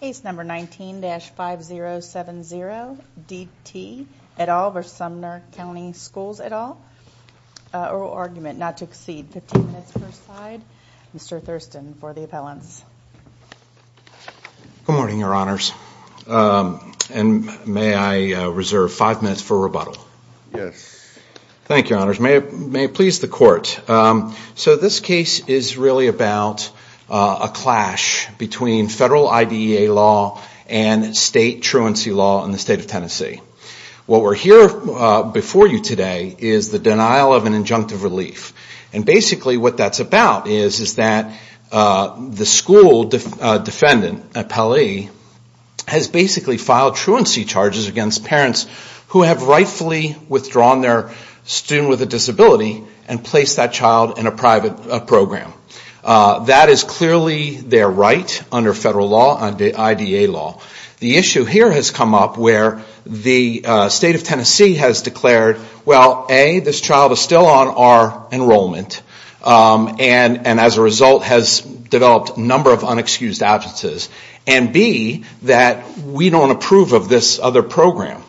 Case number 19-5070 D T et al. v. Sumner County Schools et al. Oral argument not to exceed 15 minutes per side. Mr. Thurston for the appellants. Good morning your honors and may I reserve five minutes for rebuttal? Yes. Thank you honors. May it please the court. So this case is really about a clash between federal IDEA law and state truancy law in the state of Tennessee. What we're here before you today is the denial of an injunctive relief. And basically what that's about is is that the school defendant, appellee, has basically filed truancy charges against parents who have rightfully withdrawn their student with a disability and placed that child in a private program. That is clearly their right under federal law and IDEA law. The issue here has come up where the state of Tennessee has declared, well A, this child is still on our enrollment and as a result has developed a number of unexcused absences. And B, that we don't approve of this other program.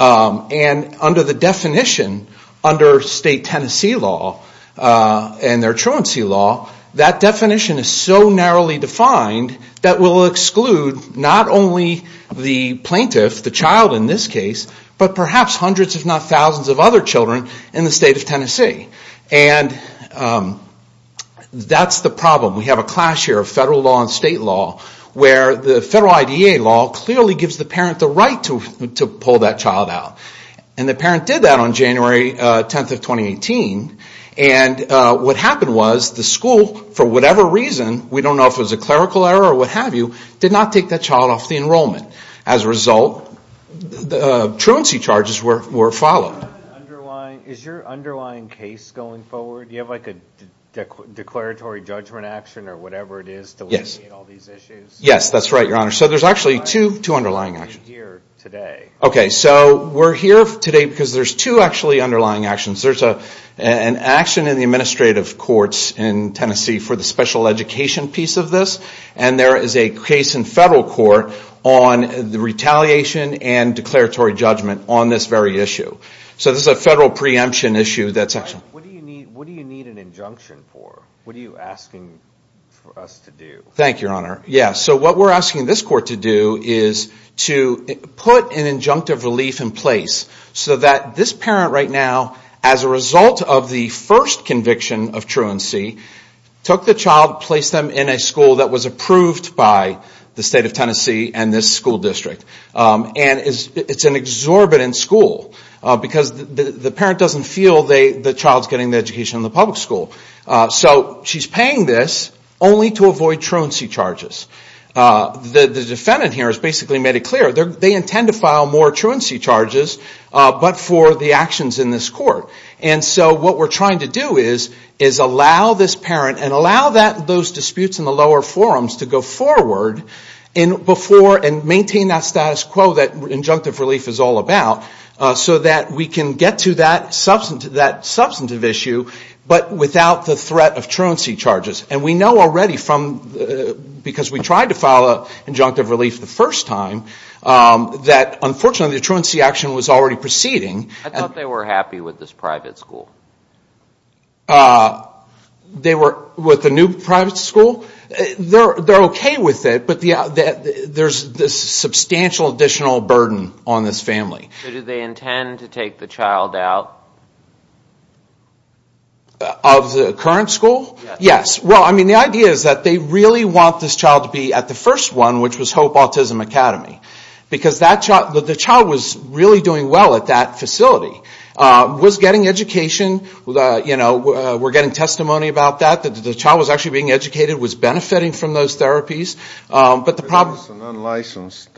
And under the definition, under state Tennessee law and their truancy law, that definition is so narrowly defined that will exclude not only the plaintiff, the child in this case, but perhaps hundreds if not thousands of other children in the state of Tennessee. And that's the problem. We have a clash here of federal law and state law where the federal IDEA law clearly gives the parent the right to pull that child out. And the parent did that on January 10th of 2018. And what happened was the school, for whatever reason, we don't know if it was a clerical error or what have you, did not take that child off the enrollment. As a result, the truancy charges were followed. Is your underlying case going forward? Do you have like a declaratory judgment action or whatever it is to alleviate all these issues? Yes, that's right, your honor. So there's actually two underlying actions. Okay, so we're here today because there's two actually underlying actions. There's a an action in the administrative courts in Tennessee for the special education piece of this. And there is a case in federal court on the retaliation and declaratory judgment on this very issue. So this is a federal preemption issue. What do you need an injunction for? What are you asking for us to do? Thank you, your honor. Yeah, so what we're asking this court to do is to put an injunctive relief in place so that this parent right now, as a result of the first conviction of truancy, took the child, placed them in a school that was approved by the state of Tennessee and this school district. And it's an exorbitant school because the parent doesn't feel the child's getting the education in the public school. So she's paying this only to clear, they intend to file more truancy charges but for the actions in this court. And so what we're trying to do is allow this parent and allow those disputes in the lower forums to go forward and maintain that status quo that injunctive relief is all about so that we can get to that substantive issue but without the threat of truancy charges. And we know from the injunctive relief the first time that unfortunately the truancy action was already proceeding. I thought they were happy with this private school. They were with the new private school? They're okay with it but there's this substantial additional burden on this family. Do they intend to take the child out? Of the current school? Yes. Well I mean the idea is that they really want this child to be at the first one which was Hope Autism Academy. Because the child was really doing well at that facility. Was getting education you know we're getting testimony about that. The child was actually being educated, was benefiting from those therapies. But the problem... Unlicensed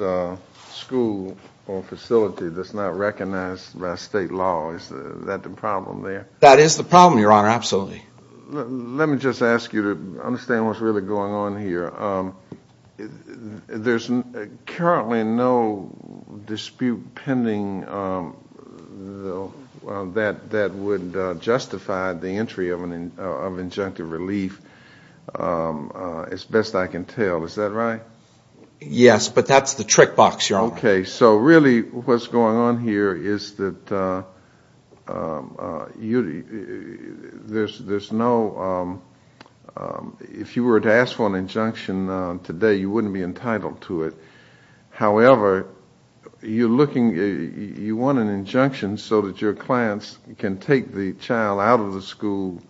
school or facility that's not recognized by state law. Is that the problem there? That is the problem your honor absolutely. Let me just ask you to understand what's really going on here. There's currently no dispute pending that would justify the entry of an injunctive relief as best I can tell. Is that right? Yes but that's the trick box your honor. Okay so really what's going on here is that there's no... if you were to ask for an injunction today you wouldn't be entitled to it. However you're looking... you want an injunction so that your clients can take the child out of the school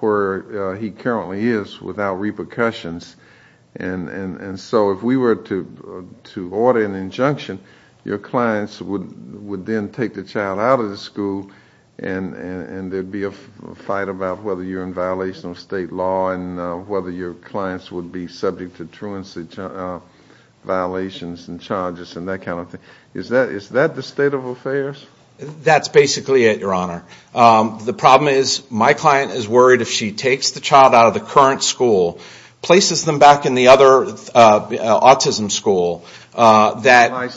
where he currently is without repercussions. And so if we were to to order an injunction your clients would then take the child out of the school and there'd be a fight about whether you're in violation of state law and whether your clients would be subject to truancy violations and charges and that kind of thing. Is that the state of affairs? That's basically it your honor. The problem is my client is worried if she takes the child out of the current school, places them back in the other autism school that...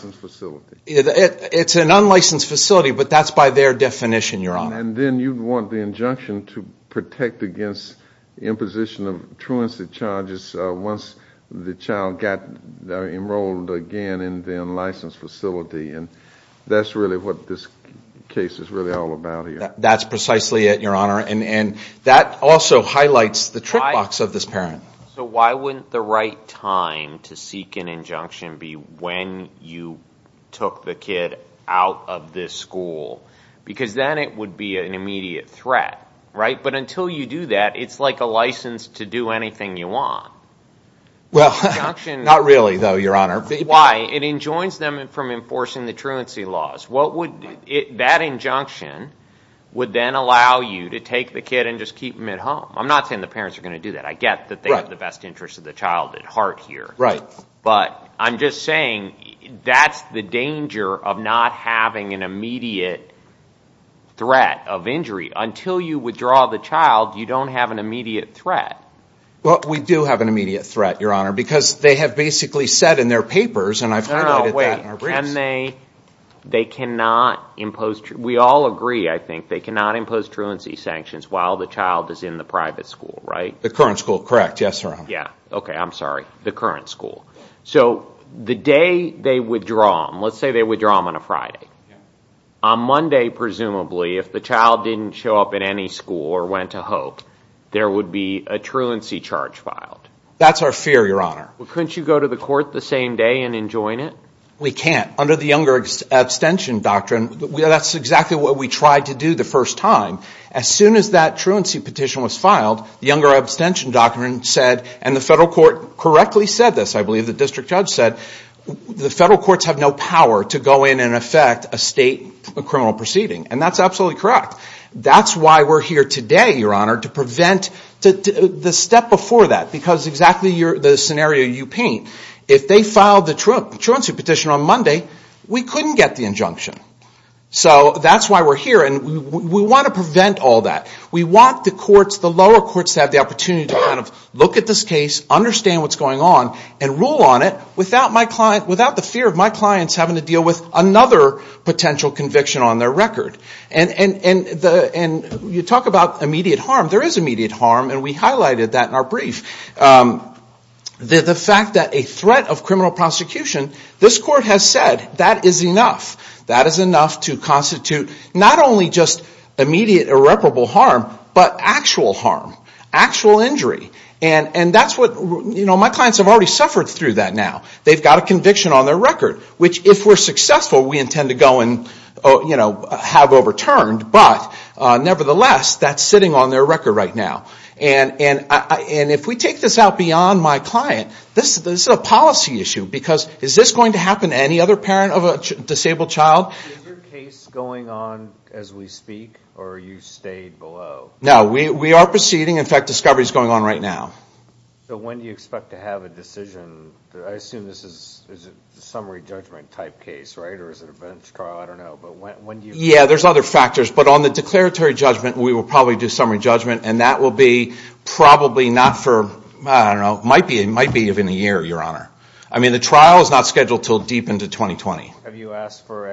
It's an unlicensed facility but that's by their definition your honor. And then you'd want the injunction to protect against imposition of truancy charges once the child got enrolled again in the unlicensed facility and that's really what this case is really all about here. That's precisely it your honor and that also highlights the trick box of this parent. So why wouldn't the right time to seek an injunction be when you took the kid out of this school? Because then it would be an immediate threat, right? But until you do that it's like a license to do anything you want. Well not really though your honor. Why? It enjoins them from enforcing the truancy laws. What would... That injunction would then allow you to take the kid and just keep him at home. I'm not saying the parents are gonna do that. I get that they have the best interest of the child at heart here. Right. But I'm just saying that's the danger of not having an immediate threat of injury. Until you withdraw the child you don't have an immediate threat. Well we do have an immediate threat your honor because they have basically said in their papers and I've... No, no, wait. Can they... They cannot impose... We all agree I think they cannot impose truancy sanctions while the child is in the current school. So the day they withdraw, let's say they withdraw on a Friday, on Monday presumably if the child didn't show up in any school or went to Hope there would be a truancy charge filed. That's our fear your honor. Couldn't you go to the court the same day and enjoin it? We can't. Under the younger abstention doctrine that's exactly what we tried to do the first time. As soon as that truancy petition was filed the younger abstention doctrine said and the federal court correctly said this I believe the district judge said the federal courts have no power to go in and affect a state criminal proceeding and that's absolutely correct. That's why we're here today your honor to prevent the step before that because exactly the scenario you paint. If they filed the truancy petition on Monday we couldn't get the injunction. So that's why we're here and we want to prevent all that. We want the courts, the lower courts to have the opportunity to look at this case, understand what's going on and rule on it without the fear of my clients having to deal with another potential conviction on their record. And you talk about immediate harm. There is immediate harm and we highlighted that in our brief. The fact that a threat of criminal prosecution, this court has said that is enough. That is enough to constitute not only just immediate irreparable harm but actual harm, actual injury. And that's what my clients have already suffered through that now. They've got a conviction on their record which if we're successful we intend to go and have overturned but nevertheless that's sitting on their record right now. And if we take this out beyond my client, this is a policy issue because is this going to happen to any other parent of a disabled child? Is your case going on as we speak or you stayed below? No, we are proceeding. In fact, discovery is going on right now. So when do you expect to have a decision? I assume this is a summary judgment type case, right? Or is it a bench trial? I don't know. Yeah, there's other factors but on the declaratory judgment we will probably do summary judgment and that will be probably not for, I don't know, it might be even a year, your honor. I mean the trial is not scheduled till deep into 2020. Have you asked for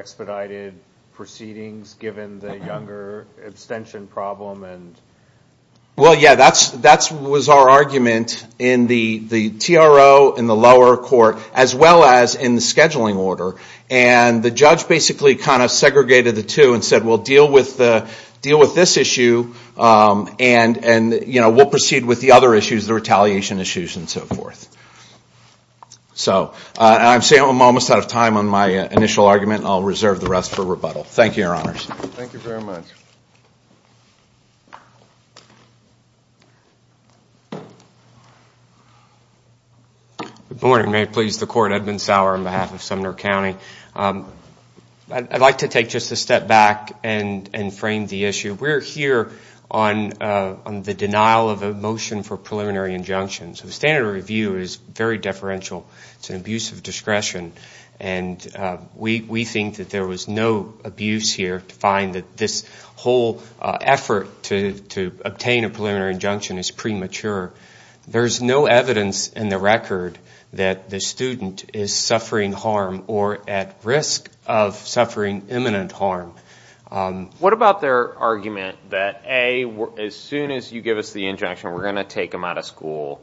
Well yeah, that was our argument in the TRO, in the lower court, as well as in the scheduling order. And the judge basically kind of segregated the two and said we'll deal with this issue and we'll proceed with the other issues, the retaliation issues and so forth. So I'm saying I'm almost out of time on my initial argument. I'll reserve the rest for rebuttal. Thank you, your honor. Good morning, may it please the court. Edmund Sauer on behalf of Sumner County. I'd like to take just a step back and and frame the issue. We're here on the denial of a motion for preliminary injunctions. The standard review is very deferential. It's an abuse of discretion and we think that there was no abuse here to find that this whole effort to obtain a preliminary injunction is premature. There's no evidence in the record that the student is suffering harm or at risk of suffering imminent harm. What about their argument that A, as soon as you give us the injunction we're going to take them out of school.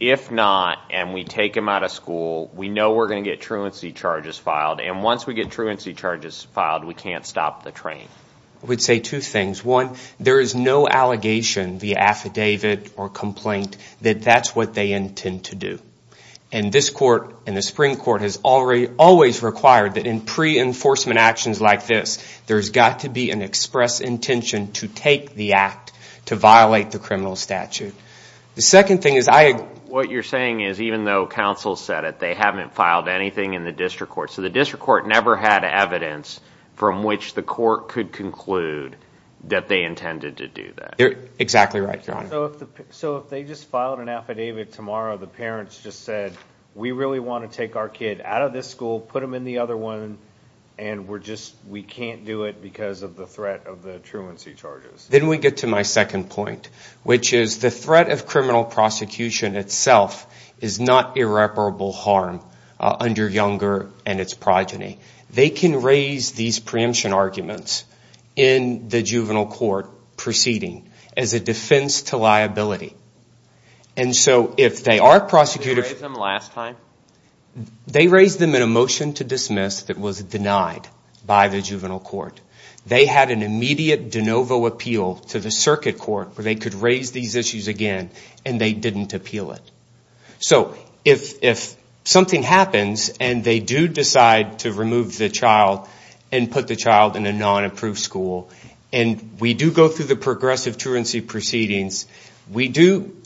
If not, and we take them out of school, we know we're going to get truancy charges filed. We can't stop the train. I would say two things. One, there is no allegation, the affidavit or complaint, that that's what they intend to do. And this court and the Supreme Court has already always required that in pre-enforcement actions like this, there's got to be an express intention to take the act to violate the criminal statute. The second thing is, what you're saying is even though counsel said it, they haven't filed anything in the district court. So the district court never had evidence from which the court could conclude that they intended to do that. You're exactly right, John. So if they just filed an affidavit tomorrow, the parents just said, we really want to take our kid out of this school, put them in the other one, and we're just, we can't do it because of the threat of the truancy charges. Then we get to my second point, which is the threat of criminal prosecution itself is not irreparable harm under Younger and its progeny. They can raise these preemption arguments in the juvenile court proceeding as a defense to liability. And so if they are prosecuted... Did they raise them last time? They raised them in a motion to dismiss that was denied by the juvenile court. They had an immediate de novo appeal to the circuit court where they could raise these issues again, and they didn't appeal it. So if something happens and they do decide to remove the child and put the child in a non-approved school, and we do go through the progressive truancy proceedings, we do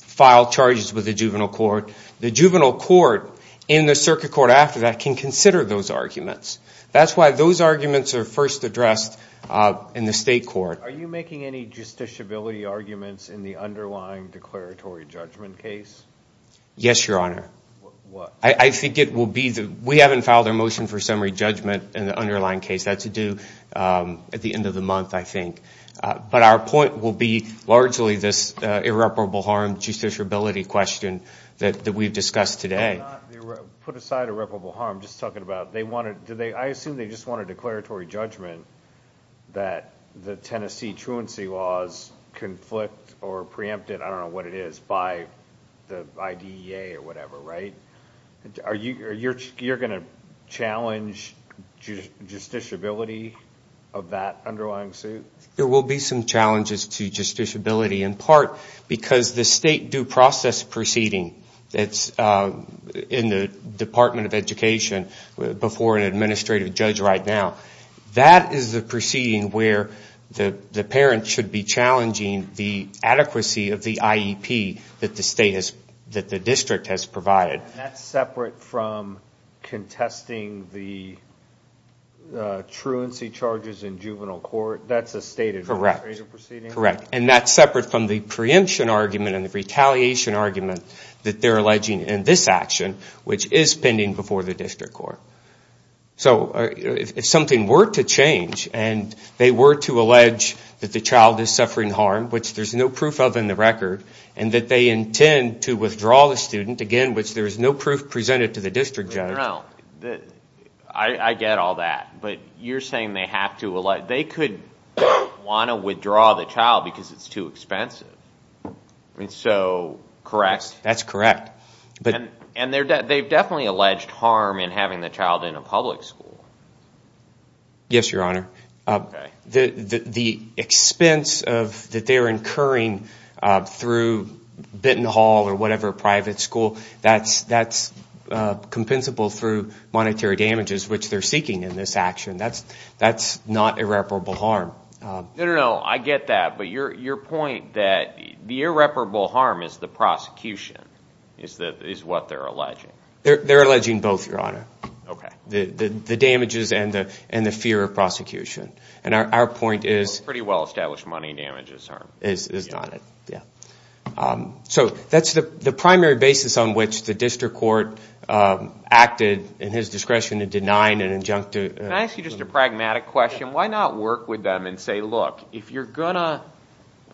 file charges with the juvenile court. The juvenile court in the circuit court after that can consider those arguments. That's why those arguments are first addressed in the underlying declaratory judgment case? Yes, Your Honor. I think it will be, we haven't filed a motion for summary judgment in the underlying case. That's due at the end of the month, I think. But our point will be largely this irreparable harm justiciability question that we've discussed today. Put aside irreparable harm, just talking about, I assume they just want a preempted, I don't know what it is, by the IDEA or whatever, right? You're going to challenge justiciability of that underlying suit? There will be some challenges to justiciability in part because the state due process proceeding that's in the Department of Education before an administrative judge right now, that is the proceeding where the parent should be challenging the adequacy of the IEP that the state has, that the district has provided. That's separate from contesting the truancy charges in juvenile court? That's a state administrative proceeding? Correct. And that's separate from the preemption argument and the retaliation argument that they're alleging in this action, which is pending before the district court. So if something were to change and they were to allege that the child is suffering harm, which there's no proof of in the record, and that they intend to withdraw the student, again, which there is no proof presented to the district judge. I get all that, but you're saying they have to allege, they could want to withdraw the child because it's too expensive. Correct? That's correct. And they've definitely alleged harm in having the child in a public school? Yes, your The expense that they're incurring through Benton Hall or whatever private school, that's compensable through monetary damages, which they're seeking in this action. That's not irreparable harm. No, I get that, but your point that the irreparable harm is the prosecution, is what they're alleging? They're alleging both, your honor. The damages and the fear of prosecution. And our point is... Pretty well-established money damages harm. Is not it, yeah. So that's the primary basis on which the district court acted in his discretion in denying an injunctive... Can I ask you just a pragmatic question? Why not work with them and say, look, if you're gonna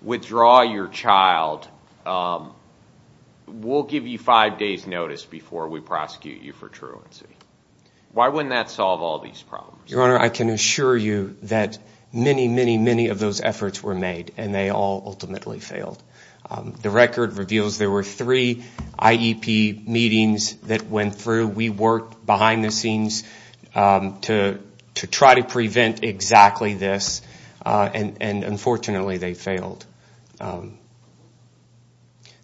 withdraw your child, we'll give you five days notice before we prosecute you for I can assure you that many, many, many of those efforts were made, and they all ultimately failed. The record reveals there were three IEP meetings that went through. We worked behind the scenes to try to prevent exactly this, and unfortunately, they failed.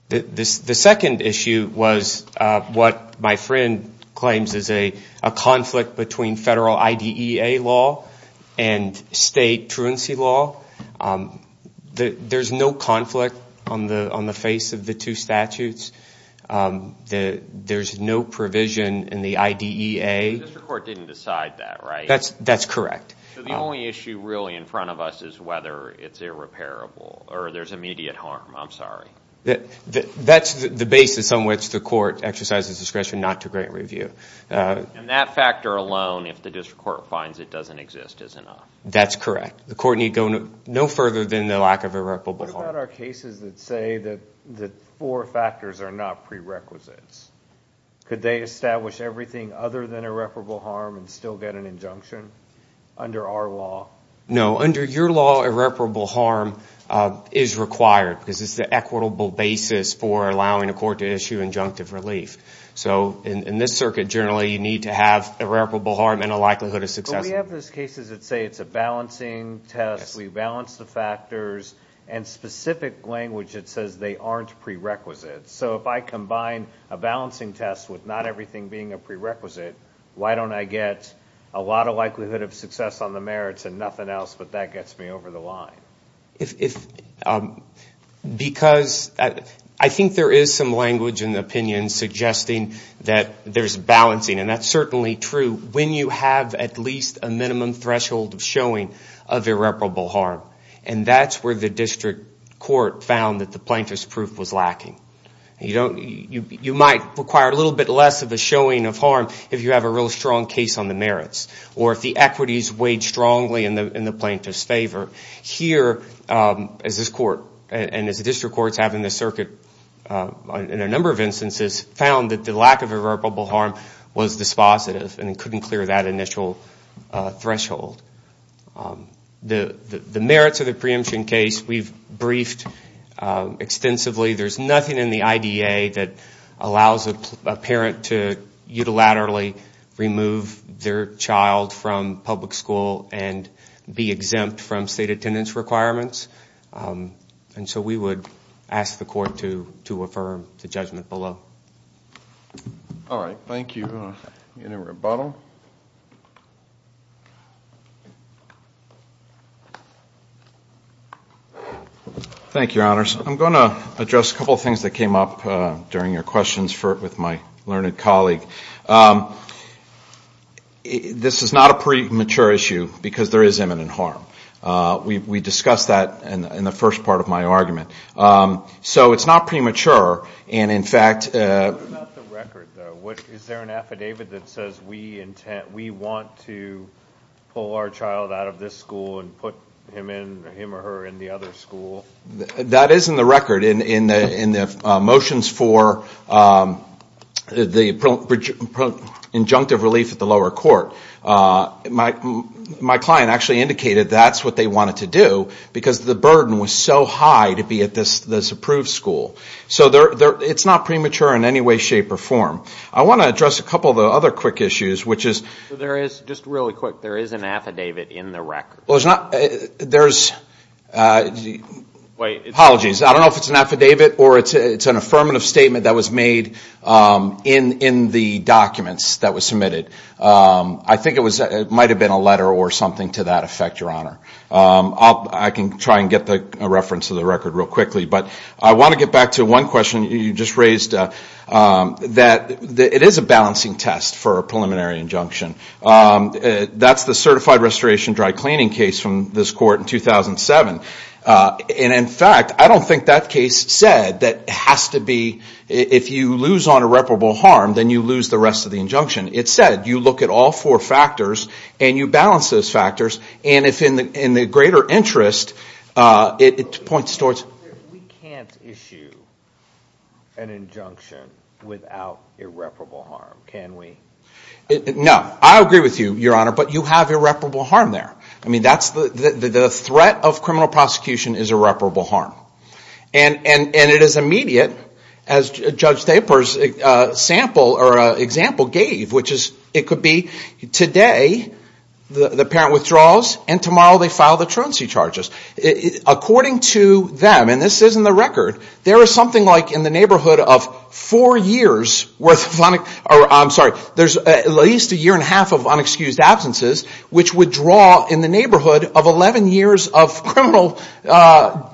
The second issue was what my friend claims is a conflict between federal IDEA law and state truancy law. There's no conflict on the face of the two statutes. There's no provision in the IDEA. The district court didn't decide that, right? That's correct. The only issue really in front of us is whether it's irreparable or there's immediate harm. I'm sorry. That's the And that factor alone, if the district court finds it doesn't exist, is enough. That's correct. The court need go no further than the lack of irreparable harm. What about our cases that say that the four factors are not prerequisites? Could they establish everything other than irreparable harm and still get an injunction under our law? No. Under your law, irreparable harm is required because it's the equitable basis for allowing a court to issue injunctive relief. So in this circuit, generally, you need to have irreparable harm and a likelihood of success. We have those cases that say it's a balancing test, we balance the factors, and specific language that says they aren't prerequisites. So if I combine a balancing test with not everything being a prerequisite, why don't I get a lot of likelihood of success on the merits and nothing else, but that gets me over the line? Because I think there is some certainly true, when you have at least a minimum threshold of showing of irreparable harm. And that's where the district court found that the plaintiff's proof was lacking. You might require a little bit less of a showing of harm if you have a real strong case on the merits, or if the equities weighed strongly in the plaintiff's favor. Here, as this court, and as the district courts have in this circuit in a number of instances, found that the lack of proof was dispositive and couldn't clear that initial threshold. The merits of the preemption case, we've briefed extensively. There's nothing in the IDA that allows a parent to unilaterally remove their child from public school and be exempt from state attendance requirements. And so we would ask the unit rebuttal. Thank you, Your Honors. I'm going to address a couple of things that came up during your questions with my learned colleague. This is not a premature issue, because there is imminent harm. We discussed that in the first part of my argument. So it's not premature, and in fact... What about the record, though? Is there an affidavit that says, we want to pull our child out of this school and put him or her in the other school? That is in the record. In the motions for the injunctive relief at the lower court, my client actually indicated that's what they wanted to do, because the burden was so high to be at this approved school. So it's not premature in any way, shape, or form. I want to address a couple of the other quick issues, which is... Just really quick, there is an affidavit in the record. There's... Apologies. I don't know if it's an affidavit or it's an affirmative statement that was made in the documents that was submitted. I think it might have been a letter or something to that effect, Your Honor. I can try and get the reference of the record real quickly, but I want to get back to one question you just raised, that it is a balancing test for a preliminary injunction. That's the certified restoration dry-cleaning case from this court in 2007, and in fact, I don't think that case said that it has to be... If you lose on irreparable harm, then you lose the rest of the injunction. It said you look at all four factors and you balance those factors, and if in the an injunction without irreparable harm, can we? No. I agree with you, Your Honor, but you have irreparable harm there. I mean, that's the... The threat of criminal prosecution is irreparable harm, and it is immediate, as Judge Thaper's sample or example gave, which is, it could be today the parent withdraws, and tomorrow they file the truancy charges. According to them, and this is in the neighborhood of four years worth of... I'm sorry, there's at least a year and a half of unexcused absences, which would draw in the neighborhood of 11 years of criminal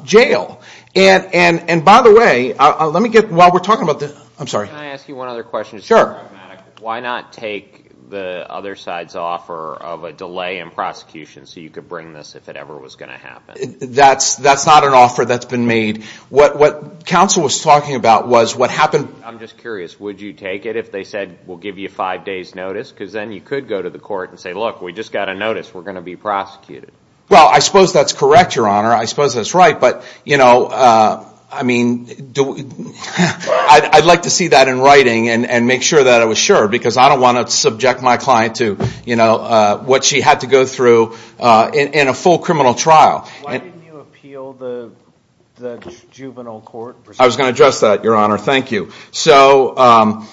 jail. And by the way, let me get... While we're talking about this... I'm sorry. Can I ask you one other question? Sure. Why not take the other side's offer of a delay in prosecution, so you could bring this if it ever was going to happen? That's not an offer that's been made. What counsel was talking about was what happened... I'm just curious, would you take it if they said, we'll give you five days notice, because then you could go to the court and say, look, we just got a notice, we're going to be prosecuted. Well, I suppose that's correct, Your Honor. I suppose that's right, but, you know, I mean, I'd like to see that in writing and make sure that I was sure, because I don't want to subject my client to, you know, the juvenile court. I was going to address that, Your Honor. Thank you. So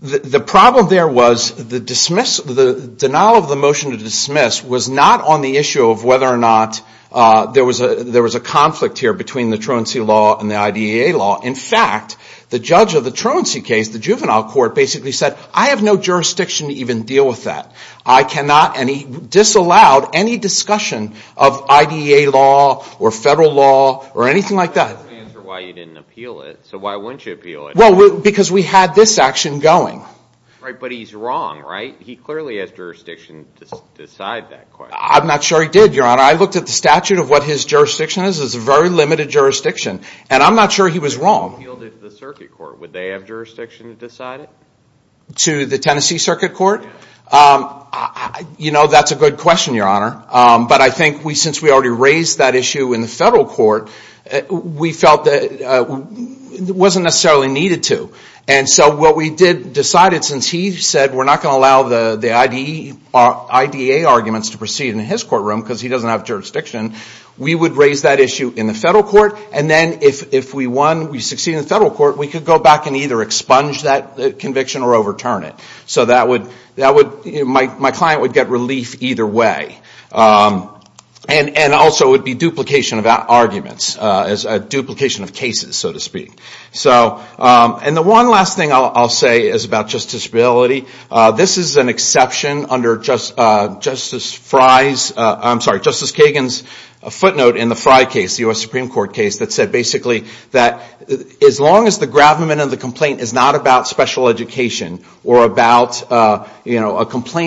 the problem there was the denial of the motion to dismiss was not on the issue of whether or not there was a conflict here between the truancy law and the IDEA law. In fact, the judge of the truancy case, the juvenile court, basically said, I have no jurisdiction to even deal with that. I cannot, and he disallowed, any discussion of IDEA law or federal law or anything like that. Why you didn't appeal it? So why wouldn't you appeal it? Well, because we had this action going. Right, but he's wrong, right? He clearly has jurisdiction to decide that. I'm not sure he did, Your Honor. I looked at the statute of what his jurisdiction is. It's a very limited jurisdiction, and I'm not sure he was wrong. He appealed it to the circuit court. Would they have jurisdiction to decide it? To the That's a good question, Your Honor. But I think since we already raised that issue in the federal court, we felt that it wasn't necessarily needed to. And so what we did decided, since he said we're not going to allow the IDEA arguments to proceed in his courtroom, because he doesn't have jurisdiction, we would raise that issue in the federal court. And then if we won, we succeed in the federal court, we could go back and either expunge that conviction or overturn it. So that would, my client would get relief either way. And also it would be duplication of arguments, duplication of cases, so to speak. And the one last thing I'll say is about justiciability. This is an exception under Justice Kagan's footnote in the Frye case, the U.S. Supreme Court case, that said basically that as long as the complaint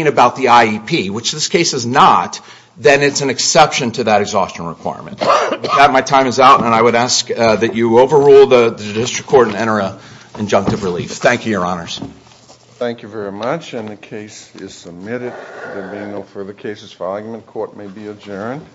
about the IEP, which this case is not, then it's an exception to that exhaustion requirement. My time is out and I would ask that you overrule the district court and enter an injunctive relief. Thank you, Your Honors. Thank you very much and the case is submitted. There being no further cases for argument, court may be adjourned.